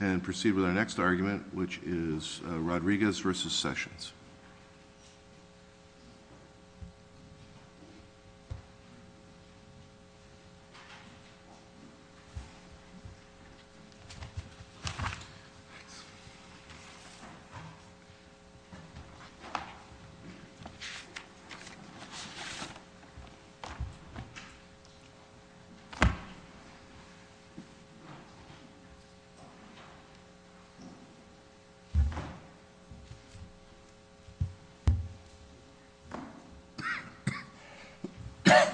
And proceed with our next argument, which is Rodriguez versus Sessions. Thank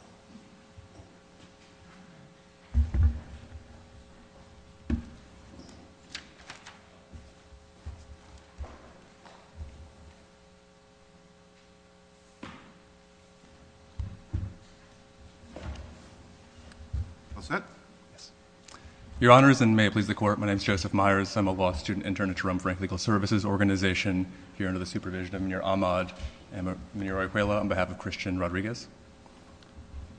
you. All set. Yes. Your honors, and may it please the court, my name's Joseph Myers. I'm a law student intern at Jerome Frank Legal Services Organization, here under the supervision of Minor Ahmad and Minor Arguello on behalf of Christian Rodriguez.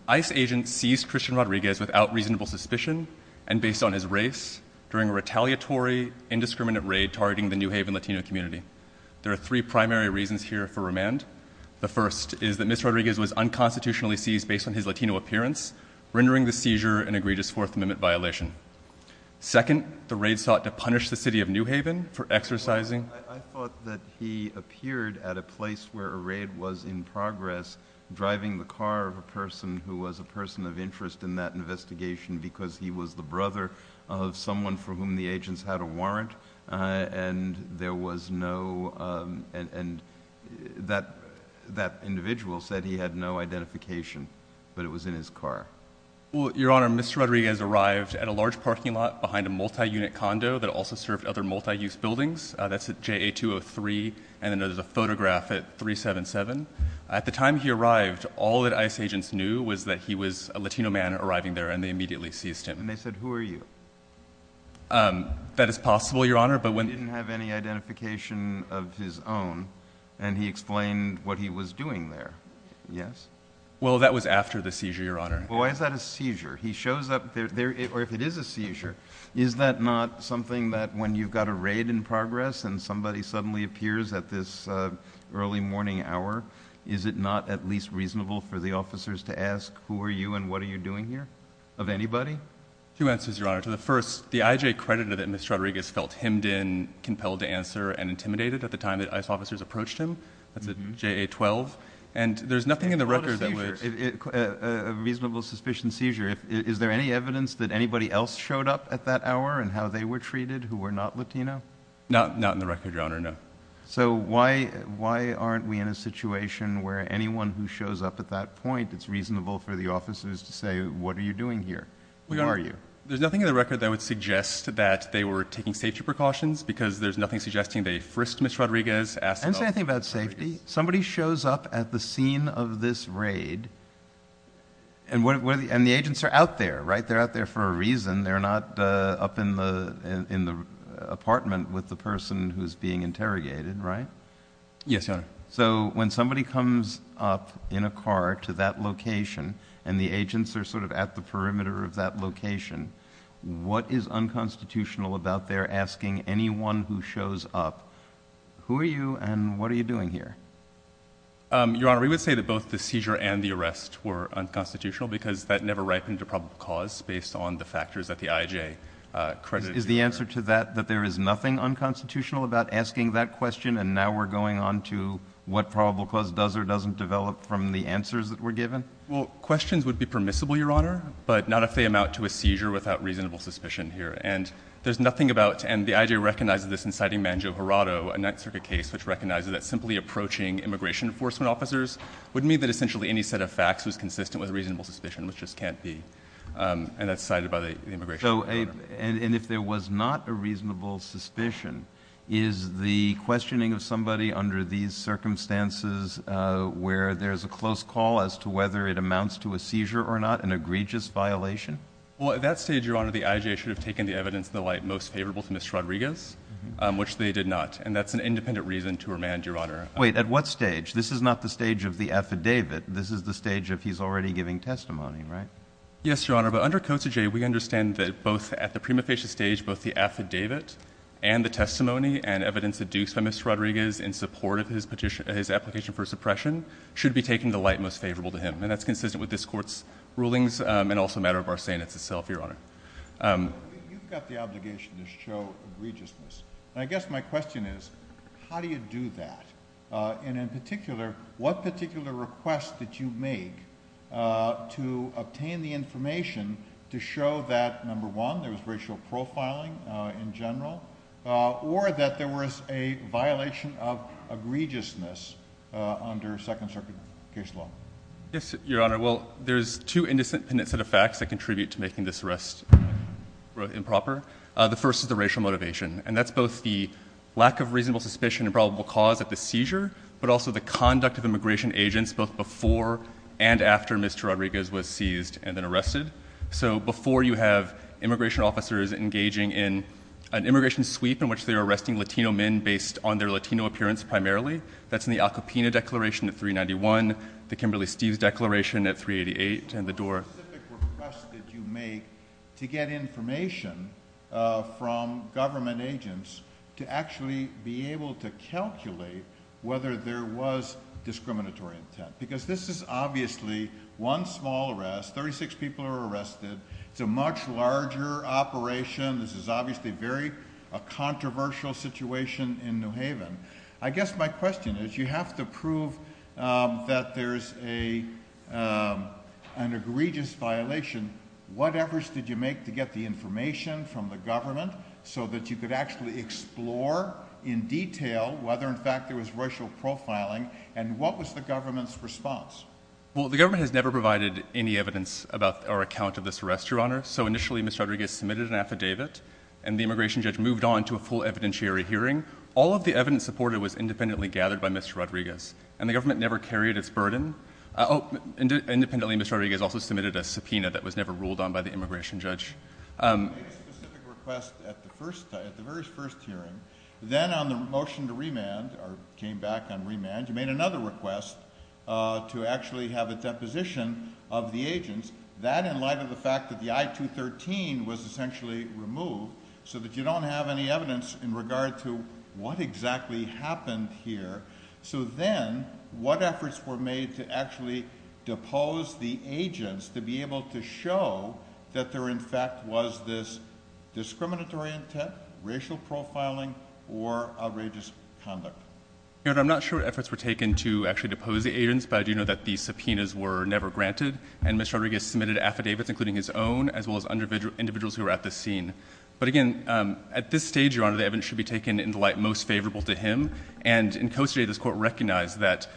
ICE agents seized Christian Rodriguez without reasonable suspicion and based on his race during a retaliatory indiscriminate raid targeting the New Haven Latino community. There are three primary reasons here for remand. The first is that Mr. Rodriguez was unconstitutionally seized based on his enduring the seizure and egregious Fourth Amendment violation. Second, the raid sought to punish the city of New Haven for exercising. I thought that he appeared at a place where a raid was in progress, driving the car of a person who was a person of interest in that investigation because he was the brother of someone for whom the agents had a warrant. And there was no, and that individual said he had no identification, but it was in his car. Your Honor, Mr. Rodriguez arrived at a large parking lot behind a multi-unit condo that also served other multi-use buildings. That's at JA 203 and there's a photograph at 377. At the time he arrived, all that ICE agents knew was that he was a Latino man arriving there and they immediately seized him. And they said, who are you? That is possible, Your Honor, but when- He didn't have any identification of his own, and he explained what he was doing there, yes? Well, that was after the seizure, Your Honor. Well, why is that a seizure? He shows up there, or if it is a seizure, is that not something that when you've got a raid in progress and somebody suddenly appears at this early morning hour, is it not at least reasonable for the officers to ask, who are you and what are you doing here, of anybody? Two answers, Your Honor. To the first, the IJ credited that Mr. Rodriguez felt hemmed in, compelled to answer, and intimidated at the time that ICE officers approached him. That's at JA 12. And there's nothing in the record that would- Reasonable suspicion seizure, is there any evidence that anybody else showed up at that hour and how they were treated who were not Latino? Not in the record, Your Honor, no. So why aren't we in a situation where anyone who shows up at that point, it's reasonable for the officers to say, what are you doing here? Who are you? There's nothing in the record that would suggest that they were taking safety precautions, because there's nothing suggesting they frisked Mr. Rodriguez, asked about- I didn't say anything about safety. Somebody shows up at the scene of this raid, and the agents are out there, right? They're out there for a reason. They're not up in the apartment with the person who's being interrogated, right? Yes, Your Honor. So when somebody comes up in a car to that location, and the agents are sort of at the perimeter of that location, what is unconstitutional about their asking anyone who shows up, who are you and what are you doing here? Your Honor, we would say that both the seizure and the arrest were unconstitutional, because that never ripened a probable cause, based on the factors that the IJ- Is the answer to that, that there is nothing unconstitutional about asking that question, and now we're going on to what probable cause does or doesn't develop from the answers that were given? Well, questions would be permissible, Your Honor, but not if they amount to a seizure without reasonable suspicion here. And there's nothing about, and the IJ recognizes this in citing Mangio-Hurado, a Ninth Circuit case which recognizes that simply approaching immigration enforcement officers would mean that essentially any set of facts was consistent with reasonable suspicion, which just can't be, and that's cited by the immigration- So, and if there was not a reasonable suspicion, is the questioning of somebody under these circumstances where there's a close call as to whether it amounts to a seizure or not an egregious violation? Well, at that stage, Your Honor, the IJ should have taken the evidence in the light most favorable to Mr. Rodriguez, which they did not, and that's an independent reason to remand, Your Honor. Wait, at what stage? This is not the stage of the affidavit. This is the stage of he's already giving testimony, right? Yes, Your Honor, but under Codes of J, we understand that both at the prima facie stage, both the affidavit and the testimony and evidence adduced by Mr. Rodriguez in support of his petition, his application for suppression, should be taken in the light most favorable to him, and that's consistent with this court's rulings, and also a matter of our saying it's itself, Your Honor. You've got the obligation to show egregiousness, and I guess my question is, how do you do that, and in particular, what particular request did you make to obtain the information to show that, number one, there was racial profiling in general, or that there was a violation of egregiousness under Second Circuit case law? Yes, Your Honor, well, there's two indecent penitent effects that contribute to making this arrest improper. The first is the racial motivation, and that's both the lack of reasonable suspicion and probable cause of the seizure, but also the conduct of immigration agents, both before and after Mr. Rodriguez was seized and then arrested. So before you have immigration officers engaging in an immigration sweep in which they're arresting Latino men based on their Latino appearance primarily, that's in the Al Capina Declaration at 391, the Kimberly-Steves Declaration at 388, and the door. What specific request did you make to get information from government agents to actually be able to calculate whether there was discriminatory intent? Because this is obviously one small arrest, 36 people are arrested. It's a much larger operation. This is obviously a very controversial situation in New Haven. I guess my question is, you have to prove that there's an egregious violation. What efforts did you make to get the information from the government so that you could actually explore in detail whether, in fact, there was racial profiling, and what was the government's response? Well, the government has never provided any evidence about our account of this arrest, Your Honor. So initially, Mr. Rodriguez submitted an affidavit, and the immigration judge moved on to a full evidentiary hearing. All of the evidence supported was independently gathered by Mr. Rodriguez, and the government never carried its burden. Independently, Mr. Rodriguez also submitted a subpoena that was never ruled on by the immigration judge. You made a specific request at the very first hearing. Then on the motion to remand, or came back on remand, you made another request to actually have a deposition of the agents. That, in light of the fact that the I-213 was essentially removed so that you don't have any evidence in regard to what exactly happened here, so then, what efforts were made to actually depose the agents to be able to show that there, in fact, was this discriminatory intent, racial profiling, or outrageous conduct? Your Honor, I'm not sure what efforts were taken to actually depose the agents, but I do know that these subpoenas were never granted, and Mr. Rodriguez submitted affidavits, including his own, as well as individuals who were at the scene. But again, at this stage, Your Honor, the evidence should be taken in the light most favorable to him, and in Costa J, this Court recognized that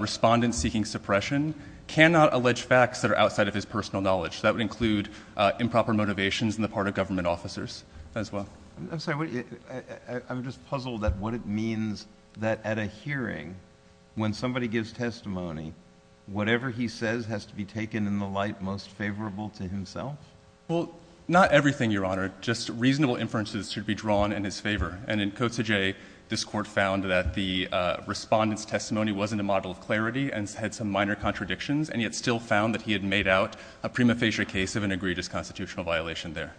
respondents seeking suppression cannot allege facts that are outside of his personal knowledge. So that would include improper motivations on the part of government officers, as well. I'm sorry, I'm just puzzled at what it means that at a hearing, when somebody gives testimony, whatever he says has to be taken in the light most favorable to himself? Well, not everything, Your Honor. Just reasonable inferences should be drawn in his favor. And in Costa J, this Court found that the respondent's testimony wasn't a model of clarity and had some minor contradictions, and yet still found that he had made out a prima facie case of an egregious constitutional violation there.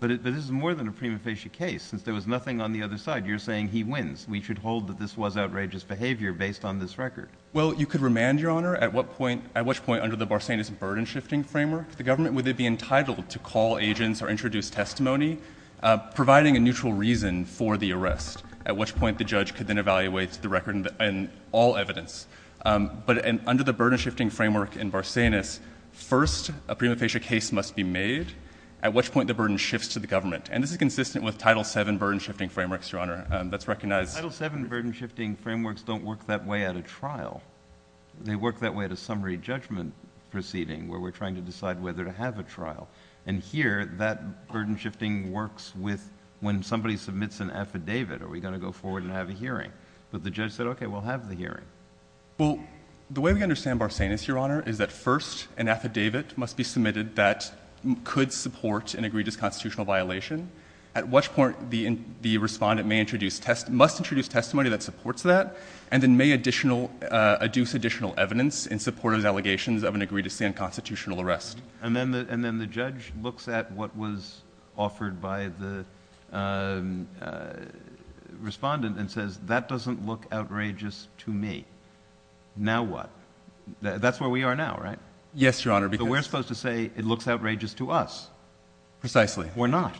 But this is more than a prima facie case, since there was nothing on the other side. You're saying he wins. We should hold that this was outrageous behavior based on this record. Well, you could remand, Your Honor, at what point, under the Barsanis burden-shifting framework, the government, would they be entitled to call agents or introduce testimony, providing a neutral reason for the arrest, at which point the judge could then evaluate the record and all evidence. But under the burden-shifting framework in Barsanis, first, a prima facie case must be made, at which point the burden shifts to the government. And this is consistent with Title VII burden-shifting frameworks, Your Honor, that's recognized. Title VII burden-shifting frameworks don't work that way at a trial. They work that way at a summary judgment proceeding, where we're trying to decide whether to have a trial. And here, that burden-shifting works when somebody submits an affidavit. Are we going to go forward and have a hearing? But the judge said, OK, we'll have the hearing. Well, the way we understand Barsanis, Your Honor, is that first, an affidavit must be submitted that could support an egregious constitutional violation, at which point the respondent must introduce testimony that supports that, and then may adduce additional evidence in support of the allegations of an egregiously unconstitutional arrest. And then the judge looks at what was offered by the respondent and says, that doesn't look outrageous to me. Now what? That's where we are now, right? Yes, Your Honor. But we're supposed to say, it looks outrageous to us. Precisely. We're not.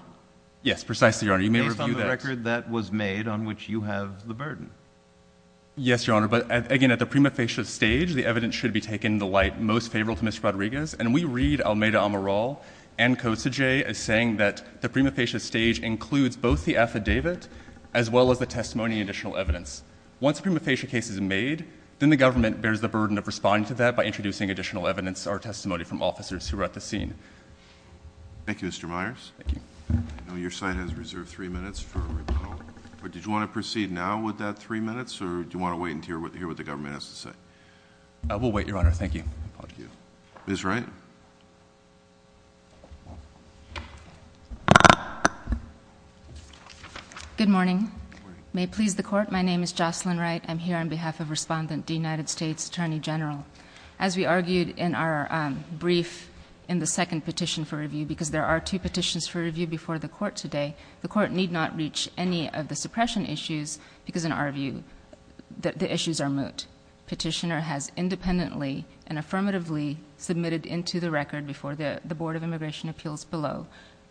Yes, precisely, Your Honor. You may review that. But that's the record that was made on which you have the burden. Yes, Your Honor. But again, at the prima facie stage, the evidence should be taken the light most favorable to Mr. Rodriguez. And we read Almeida-Amaral and Kosage as saying that the prima facie stage includes both the affidavit as well as the testimony and additional evidence. Once a prima facie case is made, then the government bears the burden of responding to that by introducing additional evidence or testimony from officers who are at the scene. Thank you, Mr. Myers. Thank you. Your side has reserved three minutes for a rebuttal. But did you want to proceed now with that three minutes? Or do you want to wait and hear what the government has to say? We'll wait, Your Honor. Thank you. Thank you. Ms. Wright? Good morning. May it please the court, my name is Jocelyn Wright. I'm here on behalf of Respondent D, United States Attorney General. As we argued in our brief in the second petition for review, because there are two petitions for review before the court today, the court need not reach any of the suppression issues because in our view, the issues are moot. Petitioner has independently and affirmatively submitted into the record before the Board of Immigration Appeals below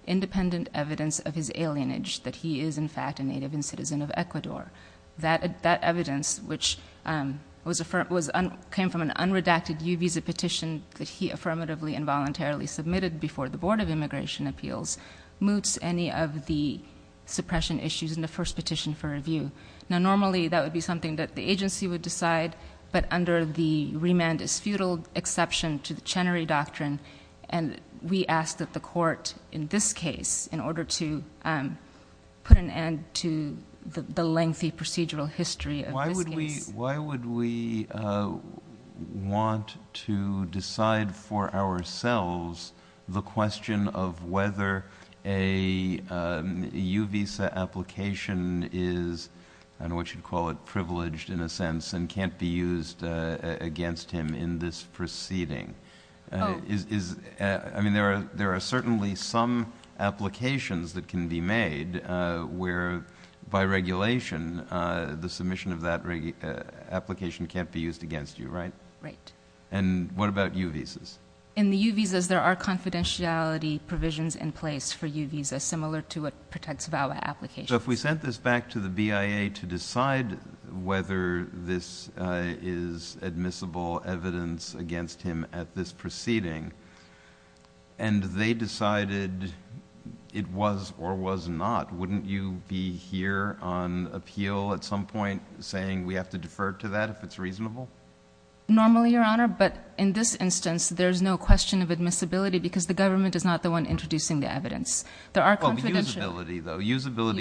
independent evidence of his alienage, that he is in fact a native and citizen of Ecuador. That evidence, which came from an unredacted U visa petition that he affirmatively and voluntarily submitted before the Board of Immigration Appeals, moots any of the suppression issues in the first petition for review. Now normally, that would be something that the agency would decide, but under the remand is futile exception to the Chenery Doctrine, and we ask that the court in this case, in order to put an end to the question of whether a U visa application is, I don't know what you'd call it, privileged in a sense, and can't be used against him in this proceeding. I mean, there are certainly some applications that can be made where by regulation, the submission of that application can't be used against you, right? Right. And what about U visas? In the U visas, there are confidentiality provisions in place for U visas, similar to what protects VAWA applications. So if we sent this back to the BIA to decide whether this is admissible evidence against him at this proceeding, and they decided it was or was not, wouldn't you be here on appeal at some point saying we have to defer to that if it's reasonable? Normally, Your Honor, but in this instance, there's no question of admissibility because the government is not the one introducing the evidence. There are confidentiality... Well, usability though.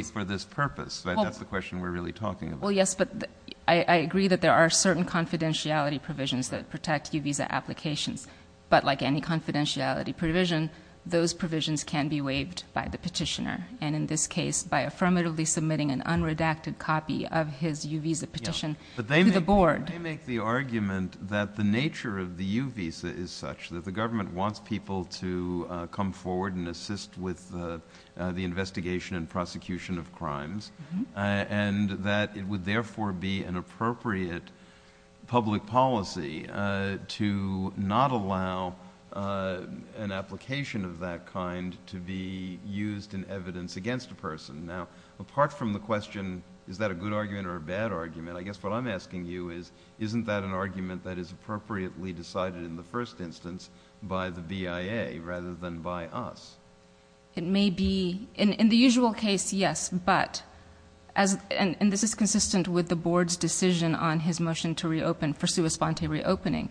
Usability for this purpose. That's the question we're really talking about. Well, yes, but I agree that there are certain confidentiality provisions that protect U visa applications, but like any confidentiality provision, those provisions can be waived by the petitioner. And in this case, by affirmatively submitting an unredacted copy of his U visa petition to the board. I make the argument that the nature of the U visa is such that the government wants people to come forward and assist with the investigation and prosecution of crimes, and that it would therefore be an appropriate public policy to not allow an application of that kind to be used in evidence against a person. Now, apart from the question, is that a good argument or a bad argument? I guess what I'm asking you is, isn't that an argument that is appropriately decided in the first instance by the BIA rather than by us? It may be in the usual case, yes, but as, and this is consistent with the board's decision on his motion to reopen for sua sponte reopening.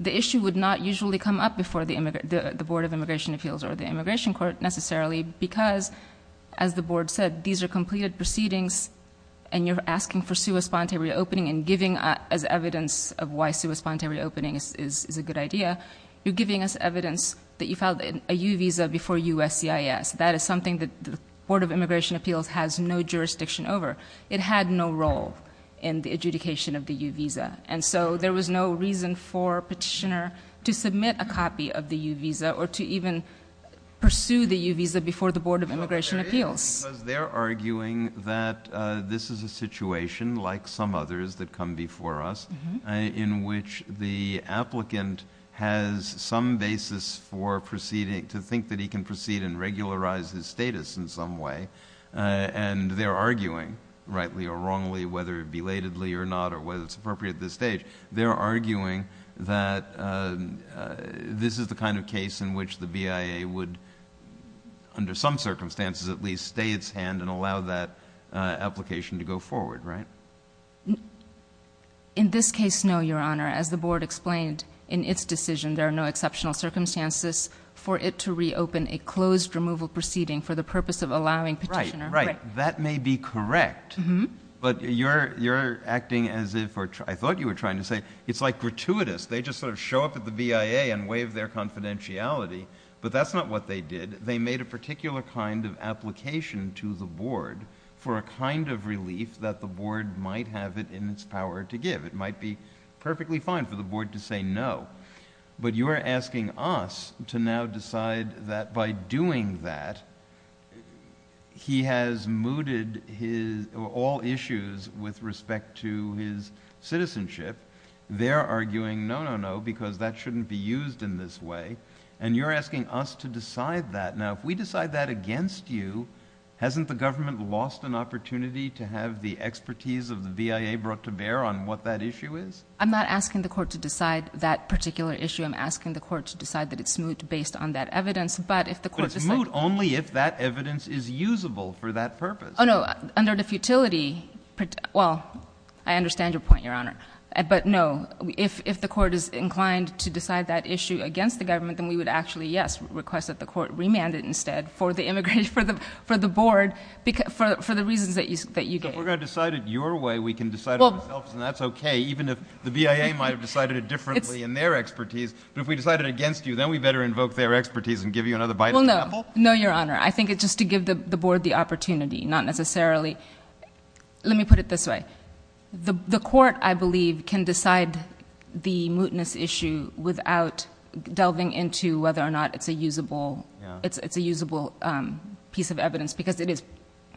The issue would not usually come up before the board of immigration appeals or the immigration court necessarily because as the board said, these are completed proceedings and you're asking for sua sponte reopening and giving us evidence of why sua sponte reopening is a good idea. You're giving us evidence that you filed a U visa before USCIS. That is something that the board of immigration appeals has no jurisdiction over. It had no role in the adjudication of the U visa. And so there was no reason for petitioner to submit a copy of the U visa or to even pursue the U visa before the board of immigration appeals. They're arguing that this is a situation like some others that come before us in which the applicant has some basis for proceeding to think that he can proceed and regularize his status in some way. And they're arguing rightly or wrongly, whether belatedly or not, or whether it's appropriate at this stage, they're arguing that this is the kind of case in which the BIA would under some circumstances, at least stay its hand and allow that application to go forward, right? In this case, no, your honor, as the board explained in its decision, there are no exceptional circumstances for it to reopen a closed removal proceeding for the purpose of allowing petitioner. Right, that may be correct, but you're acting as if, I thought you were trying to say, it's like gratuitous. They just sort of show up at the BIA and waive their confidentiality, but that's not what they did. They made a particular kind of application to the board for a kind of relief that the board might have it in its power to give. It might be perfectly fine for the board to say no, but you are asking us to now decide that by doing that, he has mooted all issues with respect to his citizenship. They're arguing no, no, no, because that shouldn't be used in this way. And you're asking us to decide that. Now, if we decide that against you, hasn't the government lost an opportunity to have the expertise of the BIA brought to bear on what that issue is? I'm not asking the court to decide that particular issue. I'm asking the court to decide that it's moot based on that evidence, but if the court just said- But it's moot only if that evidence is usable for that purpose. Oh no, under the futility, well, I understand your point, your honor, but no, if the court is inclined to decide that issue against the government, then we would actually, yes, request that the court remand it instead for the board, for the reasons that you gave. So if we're going to decide it your way, we can decide it ourselves, and that's okay, even if the BIA might have decided it differently in their expertise. But if we decide it against you, then we better invoke their expertise and give you another bite of the apple? Well, no, no, your honor. I think it's just to give the board the opportunity, not necessarily. Let me put it this way. The court, I believe, can decide the mootness issue without delving into whether or not it's a usable piece of evidence, because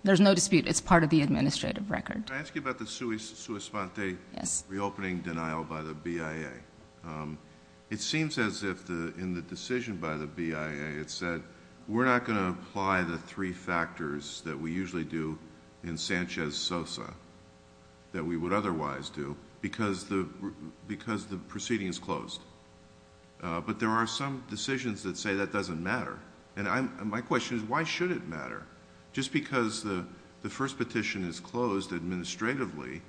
there's no dispute, it's part of the administrative record. Can I ask you about the sui sponte reopening denial by the BIA? It seems as if, in the decision by the BIA, it said, we're not going to apply the three factors that we usually do in Sanchez-Sosa that we would otherwise do, because the proceeding is closed. But there are some decisions that say that doesn't matter. And my question is, why should it matter? Just because the first petition is closed administratively,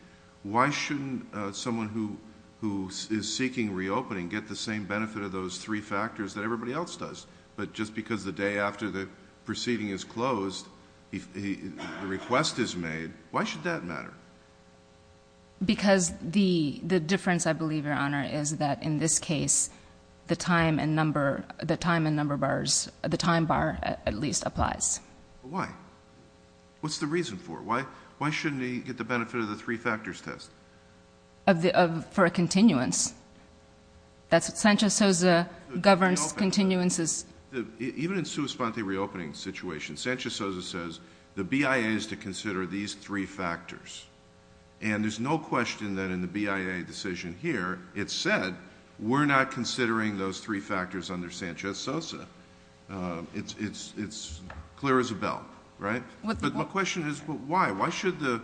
why shouldn't someone who is seeking reopening get the same benefit of those three factors that everybody else does? But just because the day after the proceeding is closed, the request is made, why should that matter? Because the difference, I believe, is that in this case, the time and number bars, the time bar, at least, applies. Why? What's the reason for it? Why shouldn't he get the benefit of the three factors test? For a continuance. Sanchez-Sosa governs continuances. Even in sui sponte reopening situation, Sanchez-Sosa says, the BIA is to consider these three factors. And there's no question that in the BIA decision here, it said, we're not considering those three factors under Sanchez-Sosa. It's clear as a bell, right? But my question is, why? Why should the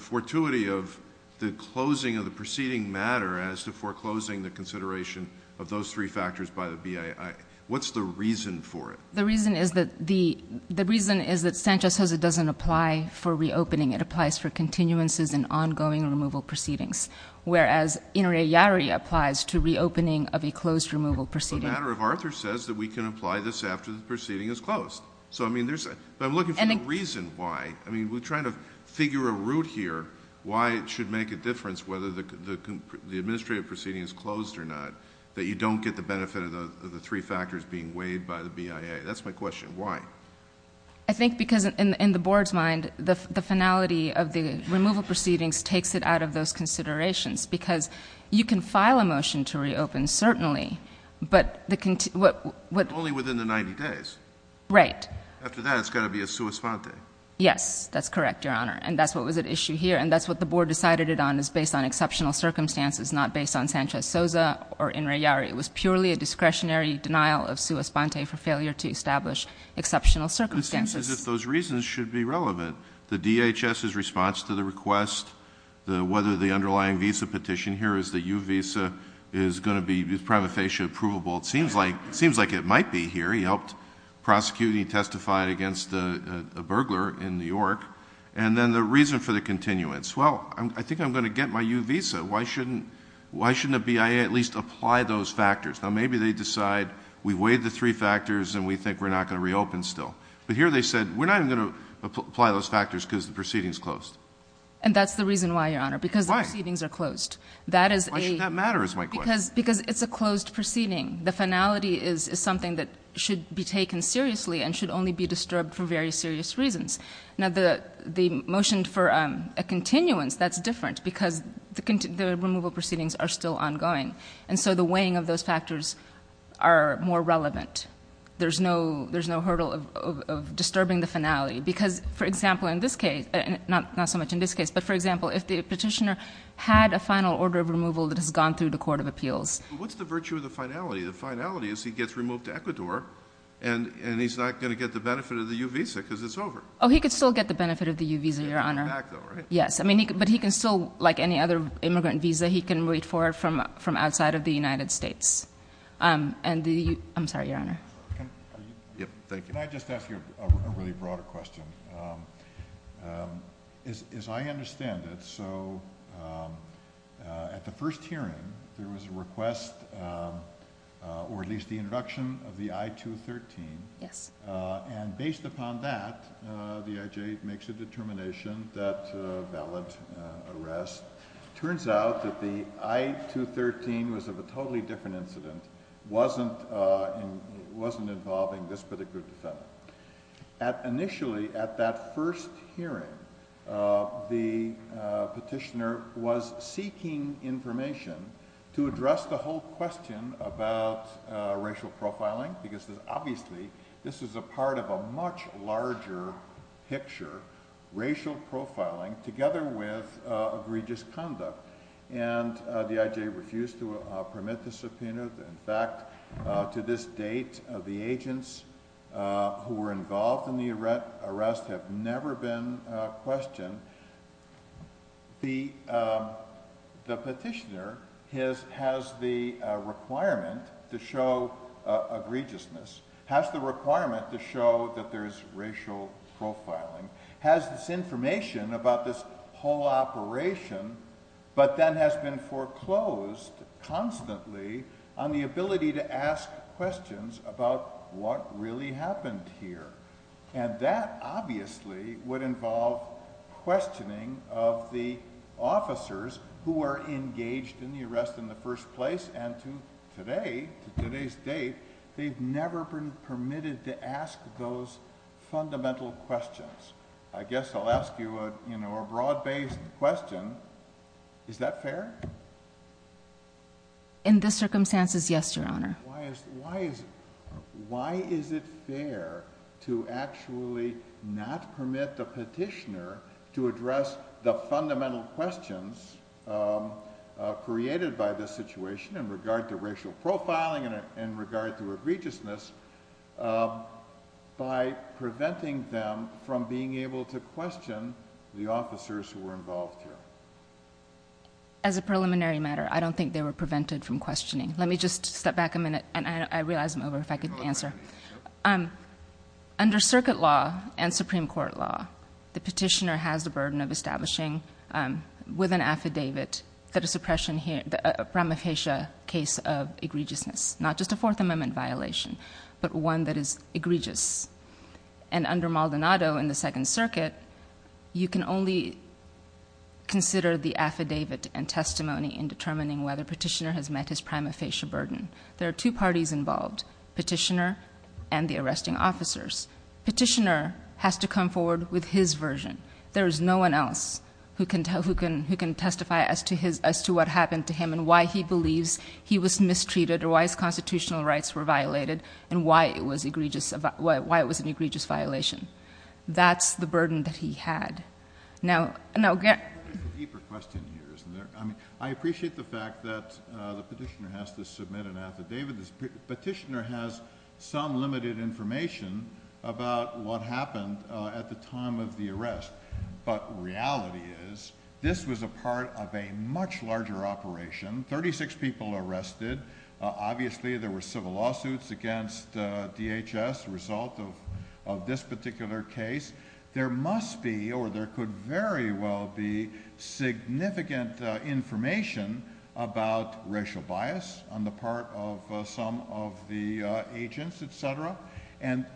fortuity of the closing of the proceeding matter as to foreclosing the consideration of those three factors by the BIA, what's the reason for it? The reason is that Sanchez-Sosa doesn't apply for reopening. It applies for continuances and ongoing removal proceedings. Whereas, Inari-Yari applies to reopening of a closed removal proceeding. The matter of Arthur says that we can apply this after the proceeding is closed. So, I mean, there's... But I'm looking for a reason why. I mean, we're trying to figure a route here, why it should make a difference whether the administrative proceeding is closed or not, that you don't get the benefit of the three factors being weighed by the BIA. That's my question. Why? I think because in the board's mind, the finality of the removal proceedings takes it out of those considerations because you can file a motion to reopen certainly, but what... Only within the 90 days. Right. After that, it's got to be a sua sponte. Yes, that's correct, Your Honor. And that's what was at issue here. And that's what the board decided it on is based on exceptional circumstances, not based on Sanchez-Sosa or Inari-Yari. It was purely a discretionary denial of sua sponte for failure to establish exceptional circumstances. If those reasons should be relevant, the DHS's response to the request, whether the underlying visa petition here is the U visa is going to be prima facie approvable. It seems like it might be here. He helped prosecuting, he testified against a burglar in New York. And then the reason for the continuance. Well, I think I'm going to get my U visa. Why shouldn't a BIA at least apply those factors? Now, maybe they decide we weighed the three factors and we think we're not going to reopen still. But here they said, we're not even going to apply those factors because the proceedings closed. And that's the reason why, Your Honor, because the proceedings are closed. That is a... Why should that matter is my question. Because it's a closed proceeding. The finality is something that should be taken seriously and should only be disturbed for very serious reasons. Now, the motion for a continuance, that's different because the removal proceedings are still ongoing. And so the weighing of those factors are more relevant. There's no hurdle of disturbing the finality because, for example, in this case, not so much in this case, but for example, if the petitioner had a final order of removal that has gone through the Court of Appeals. What's the virtue of the finality? The finality is he gets removed to Ecuador and he's not going to get the benefit of the U visa because it's over. Oh, he could still get the benefit of the U visa, Your Honor. Yes, but he can still, like any other immigrant visa, he can wait for it from outside of the United States. And the... I'm sorry, Your Honor. Yep, thank you. Can I just ask you a really broader question? As I understand it, so at the first hearing, there was a request, or at least the introduction of the I-213. Yes. And based upon that, the IJ makes a determination that valid arrest. Turns out that the I-213 was of a totally different incident, wasn't involving this particular defendant. Initially at that first hearing, the petitioner was seeking information to address the whole question about racial profiling because obviously this is a part of a much larger picture, racial profiling, together with egregious conduct. And the IJ refused to permit the subpoena. In fact, to this date, the agents who were involved in the arrest have never been questioned. The petitioner has the requirement to show egregiousness, has the requirement to show that there's racial profiling, has this information about this whole operation, but then has been foreclosed constantly on the ability to ask questions about what really happened here. And that obviously would involve questioning of the officers who are engaged in the arrest in the first place. And to today, to today's date, they've never been permitted to ask those fundamental questions. I guess I'll ask you a broad-based question. Is that fair? In this circumstances, yes, Your Honor. Why is it fair to actually not permit the petitioner to address the fundamental questions created by this situation in regard to racial profiling and in regard to egregiousness by preventing them from being able to question the officers who were involved here? As a preliminary matter, I don't think they were prevented from questioning. Let me just step back a minute and I realize I'm over if I could answer. Under circuit law and Supreme Court law, the petitioner has the burden of establishing with an affidavit that a suppression here, the ramification case of egregiousness, not just a Fourth Amendment violation, but one that is egregious. And under Maldonado in the Second Circuit, you can only consider the affidavit and testimony in determining whether petitioner has met his prima facie burden. There are two parties involved, petitioner and the arresting officers. Petitioner has to come forward with his version. There is no one else who can testify as to what happened to him and why he believes he was mistreated or why his constitutional rights were violated and why it was an egregious violation. That's the burden that he had. Now, no. There's a deeper question here, isn't there? I appreciate the fact that the petitioner has to submit an affidavit. The petitioner has some limited information about what happened at the time of the arrest. But reality is, this was a part of a much larger operation. 36 people arrested. Obviously, there were civil lawsuits against DHS, result of this particular case. There must be, or there could very well be, significant information about racial bias on the part of some of the agents, etc. And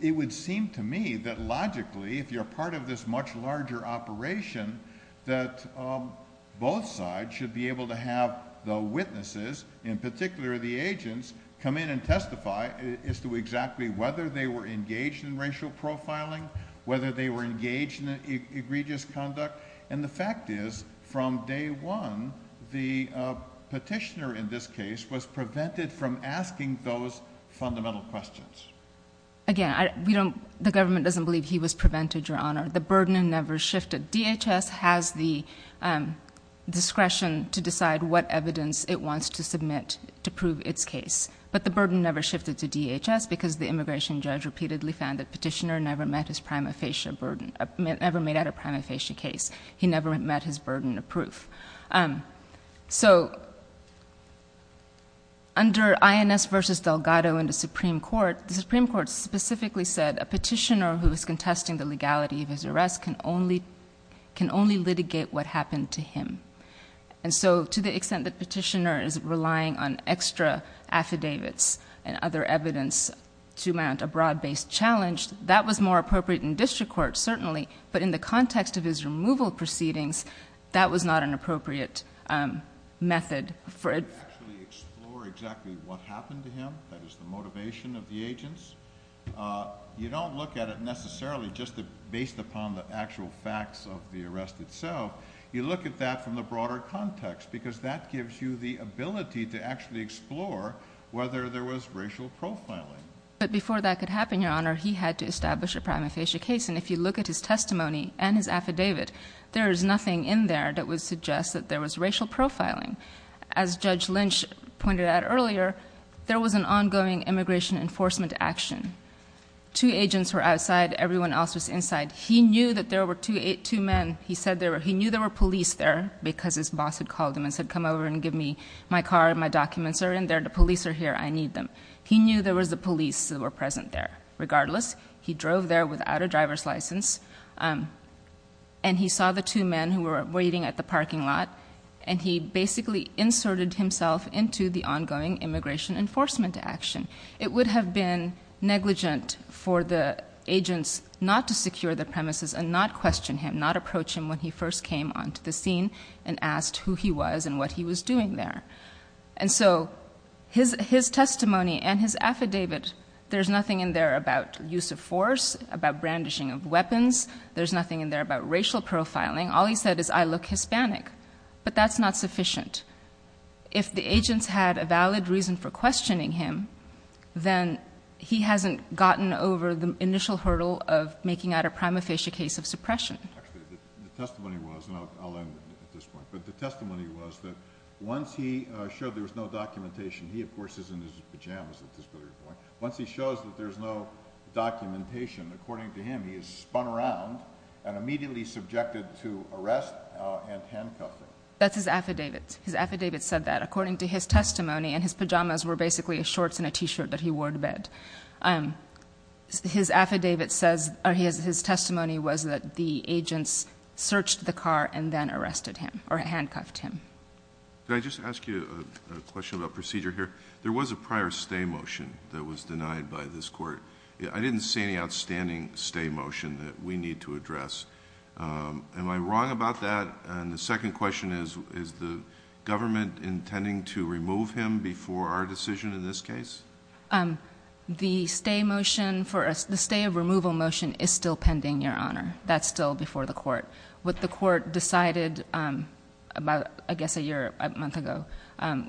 it would seem to me that logically, if you're part of this much larger operation, that both sides should be able to have the witnesses, in particular the agents, come in and testify as to exactly whether they were engaged in racial profiling, whether they were engaged in egregious conduct. And the fact is, from day one, the petitioner in this case was prevented from asking those fundamental questions. Again, the government doesn't believe he was prevented, Your Honor. The burden never shifted. DHS has the discretion to decide what evidence it wants to submit to prove its case. But the burden never shifted to DHS because the immigration judge repeatedly found the petitioner never met his prima facie burden, never made out a prima facie case. He never met his burden of proof. So under INS versus Delgado in the Supreme Court, the Supreme Court specifically said a petitioner who was contesting the legality of his arrest can only litigate what happened to him. And so to the extent that petitioner is relying on extra affidavits and other evidence to mount a broad-based challenge, that was more appropriate in district court, but in the context of his removal proceedings, that was not an appropriate method for it. You don't actually explore exactly what happened to him. That is the motivation of the agents. You don't look at it necessarily just based upon the actual facts of the arrest itself. You look at that from the broader context because that gives you the ability to actually explore whether there was racial profiling. But before that could happen, Your Honor, he had to establish a prima facie case. And if you look at his testimony and his affidavit, there is nothing in there that would suggest that there was racial profiling. As Judge Lynch pointed out earlier, there was an ongoing immigration enforcement action. Two agents were outside. Everyone else was inside. He knew that there were two men. He said he knew there were police there because his boss had called him and said, come over and give me my car and my documents are in there. The police are here. I need them. He knew there was the police that were present there. Regardless, he drove there without a driver's license and he saw the two men who were waiting at the parking lot and he basically inserted himself into the ongoing immigration enforcement action. It would have been negligent for the agents not to secure the premises and not question him, not approach him when he first came onto the scene and asked who he was and what he was doing there. And so his testimony and his affidavit, there's nothing in there about use of force, about brandishing of weapons. There's nothing in there about racial profiling. All he said is I look Hispanic, but that's not sufficient. If the agents had a valid reason for questioning him, then he hasn't gotten over the initial hurdle of making out a prima facie case of suppression. Actually, the testimony was, and I'll end at this point, but the testimony was that once he showed there was no documentation, he of course is in his pajamas at this very point. Once he shows that there's no documentation, according to him, he is spun around and immediately subjected to arrest and handcuffing. That's his affidavit. His affidavit said that according to his testimony and his pajamas were basically shorts and a t-shirt that he wore to bed. His affidavit says, his testimony was that the agents searched the car and then arrested him or handcuffed him. Can I just ask you a question about procedure here? There was a prior stay motion that was denied by this court. I didn't see any outstanding stay motion that we need to address. Am I wrong about that? And the second question is, is the government intending to remove him before our decision in this case? The stay motion for us, the stay of removal motion is still pending, Your Honor. That's still before the court. What the court decided about, I guess, a year, a month ago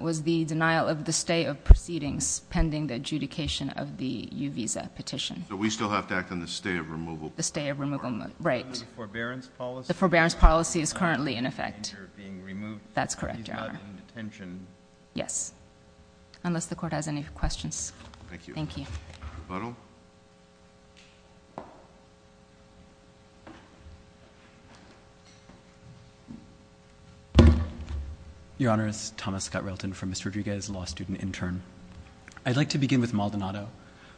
was the denial of the stay of proceedings pending the adjudication of the U visa petition. So we still have to act on the stay of removal? The stay of removal, right. Under the forbearance policy? The forbearance policy is currently in effect. And you're being removed. That's correct, Your Honor. He's not in detention. Yes, unless the court has any questions. Thank you. Your Honor, it's Thomas Scott-Railton from Mr. Rodriguez, law student intern. I'd like to begin with Maldonado.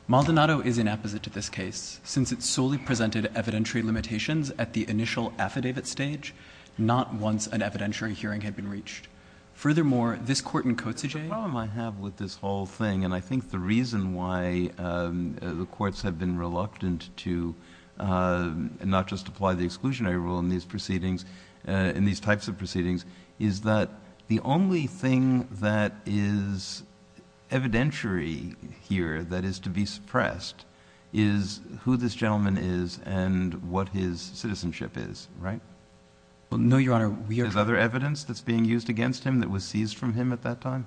Maldonado is inapposite to this case, since it's solely presented evidentiary limitations at the initial affidavit stage, not once an evidentiary hearing had been reached. Furthermore, this court in Kotzebue... The problem I have with this whole thing, and I think the reason why the courts have been reluctant to not just apply the exclusionary rule in these proceedings, in these types of proceedings, is that the only thing that is evidentiary here that is to be suppressed is who this gentleman is and what his citizenship is, right? Well, no, Your Honor, we are... Is there other evidence that's being used against him that was seized from him at that time?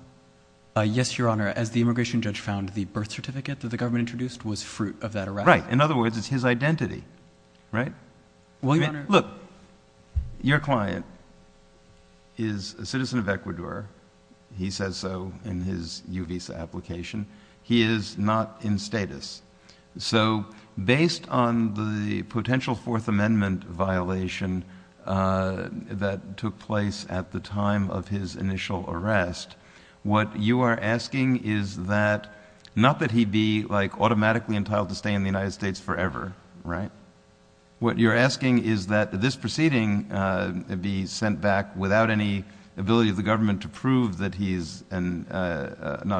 Yes, Your Honor. As the immigration judge found, the birth certificate that the government introduced was fruit of that arrest. Right. In other words, it's his identity, right? Look, your client is a citizen of Ecuador. He says so in his U visa application. He is not in status. So based on the potential Fourth Amendment violation that took place at the time of his initial arrest, what you are asking is that... Not that he'd be, like, automatically entitled to stay in the United States forever, right? What you're asking is that this proceeding be sent back without any ability of the government to prove that he's not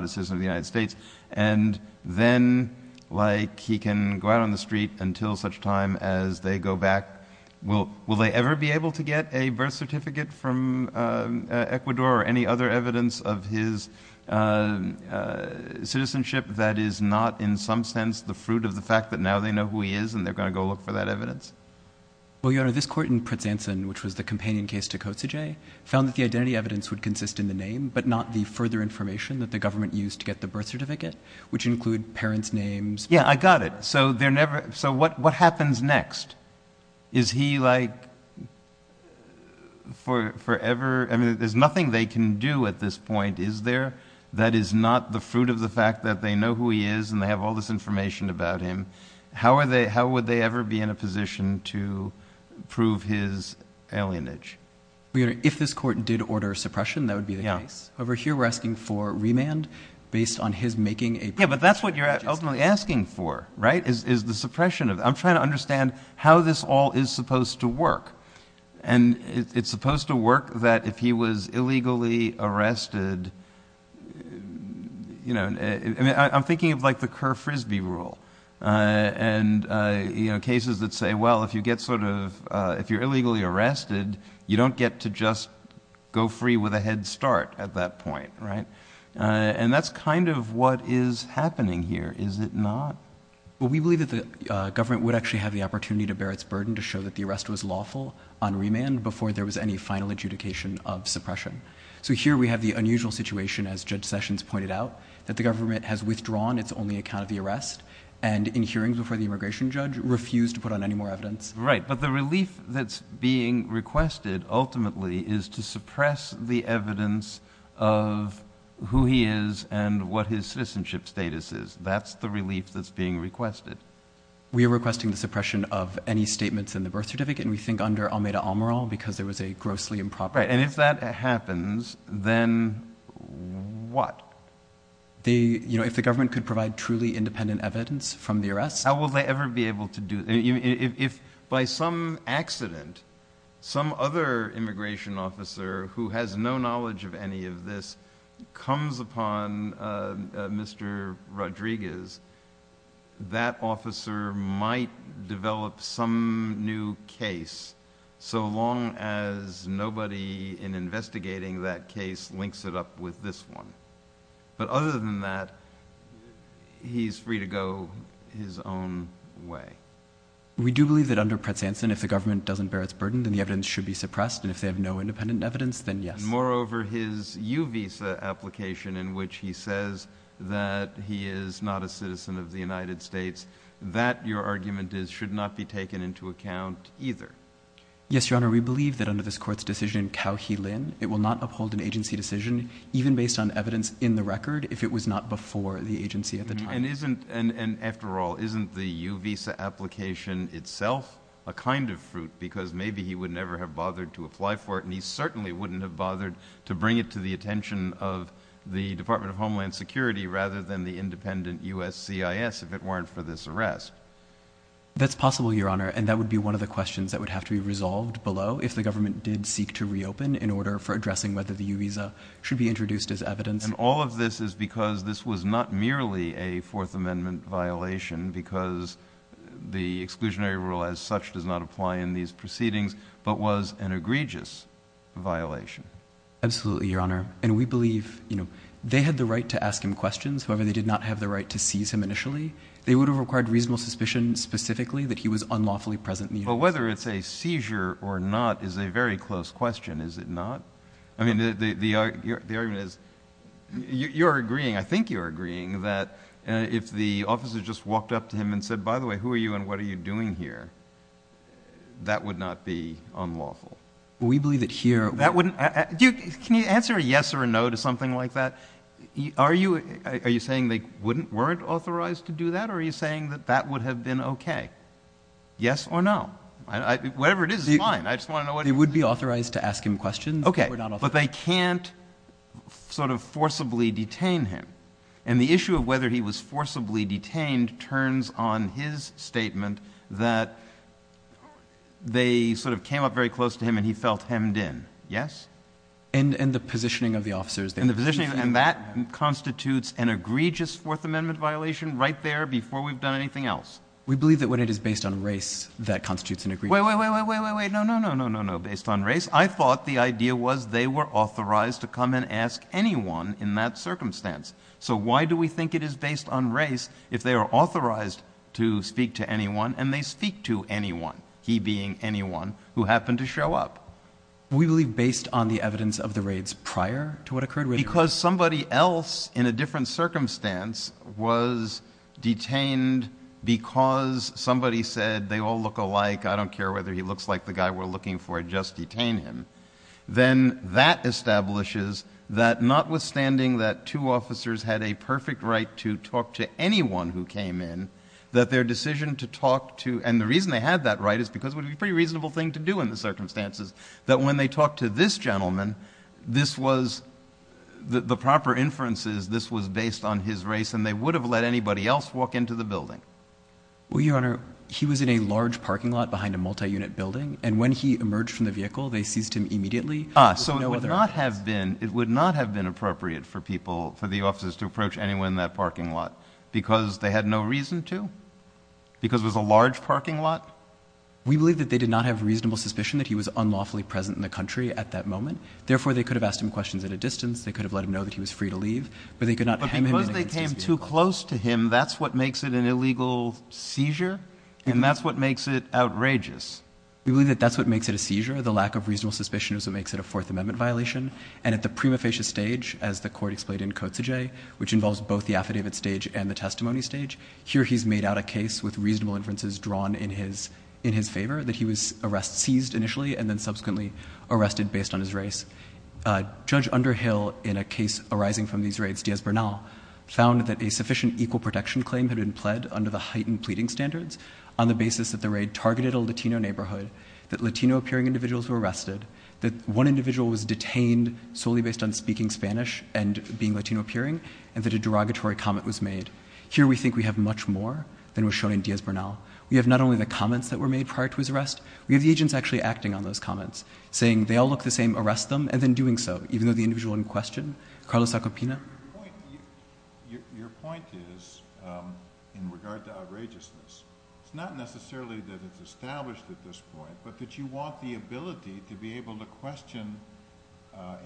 a citizen of the United States, and then, like, he can go out on the street until such time as they go back. Will they ever be able to get a birth certificate from Ecuador or any other evidence of his citizenship that is not, in some sense, the fruit of the fact that now they know who he is and they're going to go look for that evidence? Well, Your Honor, this court in Pretzanson, which was the companion case to Kotzege, found that the identity evidence would consist in the name, but not the further information that the government used to get the birth certificate, which include parents' names. Yeah, I got it. So they're never... So what happens next? Is he, like, forever... I mean, there's nothing they can do at this point, is there? That is not the fruit of the fact that they know who he is and they have all this information about him. How would they ever be in a position to prove his alienage? If this court did order suppression, that would be the case. Over here, we're asking for remand based on his making a... Yeah, but that's what you're ultimately asking for, right? Is the suppression of... I'm trying to understand how this all is supposed to work. And it's supposed to work that if he was illegally arrested... You know, I'm thinking of, like, the Kerr-Frisbee rule and, you know, cases that say, well, if you get sort of... If you're illegally arrested, you don't get to just go free with a head start at that point, right? And that's kind of what is happening here, is it not? Well, we believe that the government would actually have the opportunity to bear its burden to show that the arrest was lawful on remand before there was any final adjudication of suppression. So here we have the unusual situation, as Judge Sessions pointed out, that the government has withdrawn its only account of the arrest and, in hearings before the immigration judge, refused to put on any more evidence. Right, but the relief that's being requested, ultimately, is to suppress the evidence of who he is and what his citizenship status is. That's the relief that's being requested. We are requesting the suppression of any statements in the birth certificate, and we think under Almeida-Almerol because there was a grossly improper... Right, and if that happens, then what? You know, if the government could provide truly independent evidence from the arrest... How will they ever be able to do... If, by some accident, some other immigration officer who has no knowledge of any of this comes upon Mr. Rodriguez, that officer might develop some new case so long as nobody in investigating that case links it up with this one. But other than that, he's free to go his own way. We do believe that under Pratsanson, if the government doesn't bear its burden, then the evidence should be suppressed, and if they have no independent evidence, then yes. Moreover, his U-Visa application in which he says that he is not a citizen of the United States, that, your argument is, should not be taken into account either. Yes, Your Honor. We believe that under this court's decision, Cao He Lin, it will not uphold an agency decision even based on evidence in the record if it was not before the agency at the time. And after all, isn't the U-Visa application itself a kind of fruit because maybe he would never have bothered to apply for it, and he certainly wouldn't have bothered to bring it to the attention of the Department of Homeland Security rather than the independent USCIS if it weren't for this arrest. That's possible, Your Honor, and that would be one of the questions that would have to be resolved below if the government did seek to reopen in order for addressing whether the U-Visa should be introduced as evidence. And all of this is because this was not merely a Fourth Amendment violation because the exclusionary rule as such does not apply in these proceedings, but was an egregious violation. Absolutely, Your Honor. And we believe, you know, they had the right to ask him questions. However, they did not have the right to seize him initially. They would have required reasonable suspicion specifically that he was unlawfully present. But whether it's a seizure or not is a very close question, is it not? I mean, the argument is, you're agreeing, I think you're agreeing, that if the officer just walked up to him and said, by the way, who are you and what are you doing here? That would not be unlawful. We believe that here... That wouldn't... Can you answer a yes or a no to something like that? Are you saying they weren't authorized to do that? Or are you saying that that would have been okay? Yes or no? Whatever it is, it's fine. I just want to know what... They would be authorized to ask him questions. Okay, but they can't sort of forcibly detain him. And the issue of whether he was forcibly detained turns on his statement that they sort of came up very close to him and he felt hemmed in. Yes? And the positioning of the officers... And the positioning... And that constitutes an egregious Fourth Amendment violation right there before we've done anything else. We believe that when it is based on race, that constitutes an egregious... Wait, wait, wait, wait, wait, wait, wait. No, no, no, no, no, no. Based on race, I thought the idea was they were authorized to come and ask anyone in that circumstance. Why do we think it is based on race if they are authorized to speak to anyone and they speak to anyone, he being anyone who happened to show up? We believe based on the evidence of the raids prior to what occurred with him. Because somebody else in a different circumstance was detained because somebody said, they all look alike, I don't care whether he looks like the guy we're looking for, just detain him. Then that establishes that notwithstanding that two officers had a perfect right to talk to anyone who came in, that their decision to talk to... And the reason they had that right is because it would be a pretty reasonable thing to do in the circumstances that when they talked to this gentleman, this was the proper inferences, this was based on his race and they would have let anybody else walk into the building. Well, Your Honor, he was in a large parking lot behind a multi-unit building. And when he emerged from the vehicle, they seized him immediately. Ah, so it would not have been... for the officers to approach anyone in that parking lot because they had no reason to? Because it was a large parking lot? We believe that they did not have reasonable suspicion that he was unlawfully present in the country at that moment. Therefore, they could have asked him questions at a distance. They could have let him know that he was free to leave, but they could not... But because they came too close to him, that's what makes it an illegal seizure. And that's what makes it outrageous. We believe that that's what makes it a seizure. The lack of reasonable suspicion is what makes it a Fourth Amendment violation. And at the prima facie stage, as the court explained in Cotes de Jay, which involves both the affidavit stage and the testimony stage, here he's made out a case with reasonable inferences drawn in his favor, that he was seized initially and then subsequently arrested based on his race. Judge Underhill, in a case arising from these raids, Diaz-Bernal, found that a sufficient equal protection claim had been pled under the heightened pleading standards on the basis that the raid targeted a Latino neighborhood, that Latino-appearing individuals were arrested, that one individual was detained solely based on speaking Spanish and being Latino-appearing, and that a derogatory comment was made. Here we think we have much more than was shown in Diaz-Bernal. We have not only the comments that were made prior to his arrest, we have the agents actually acting on those comments, saying they all look the same, arrest them, and then doing so, even though the individual in question, Carlos Zacopina. Your point is, in regard to outrageousness, it's not necessarily that it's established at this point, but that you want the ability to be able to question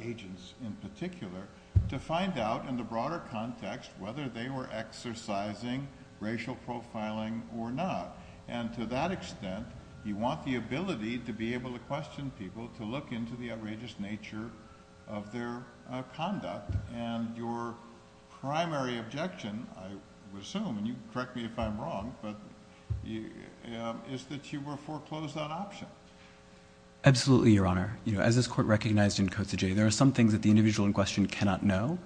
agents in particular, to find out in the broader context whether they were exercising racial profiling or not. And to that extent, you want the ability to be able to question people to look into the outrageous nature of their conduct. And your primary objection, I would assume, and you can correct me if I'm wrong, but is that you will foreclose that option. Absolutely, Your Honor. As this Court recognized in Cotes de Jay, there are some things that the individual in question cannot know.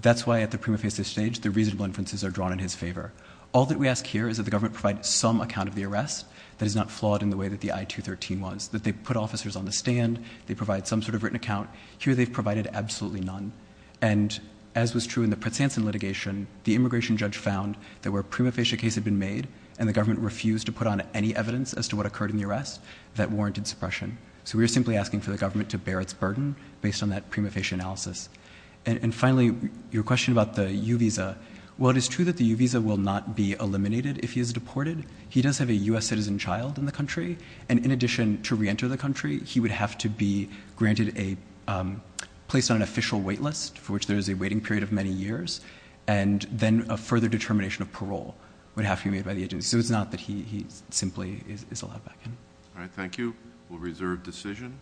That's why at the prima facie stage, the reasonable inferences are drawn in his favor. All that we ask here is that the government provide some account of the arrest that is not flawed in the way that the I-213 was, that they put officers on the stand, they provide some sort of written account. Here, they've provided absolutely none. And as was true in the Pratsanson litigation, the immigration judge found that where prima facie case had been made and the government refused to put on any evidence as to what occurred in the arrest, that warranted suppression. So we are simply asking for the government to bear its burden based on that prima facie analysis. And finally, your question about the U visa. While it is true that the U visa will not be eliminated if he is deported, he does have a U.S. citizen child in the country. And in addition to reenter the country, he would have to be granted a, placed on an official wait list for which there is a waiting period of many years, and then a further determination of parole would have to be made by the agency. So it's not that he simply is allowed back in. All right, thank you. We'll reserve decision.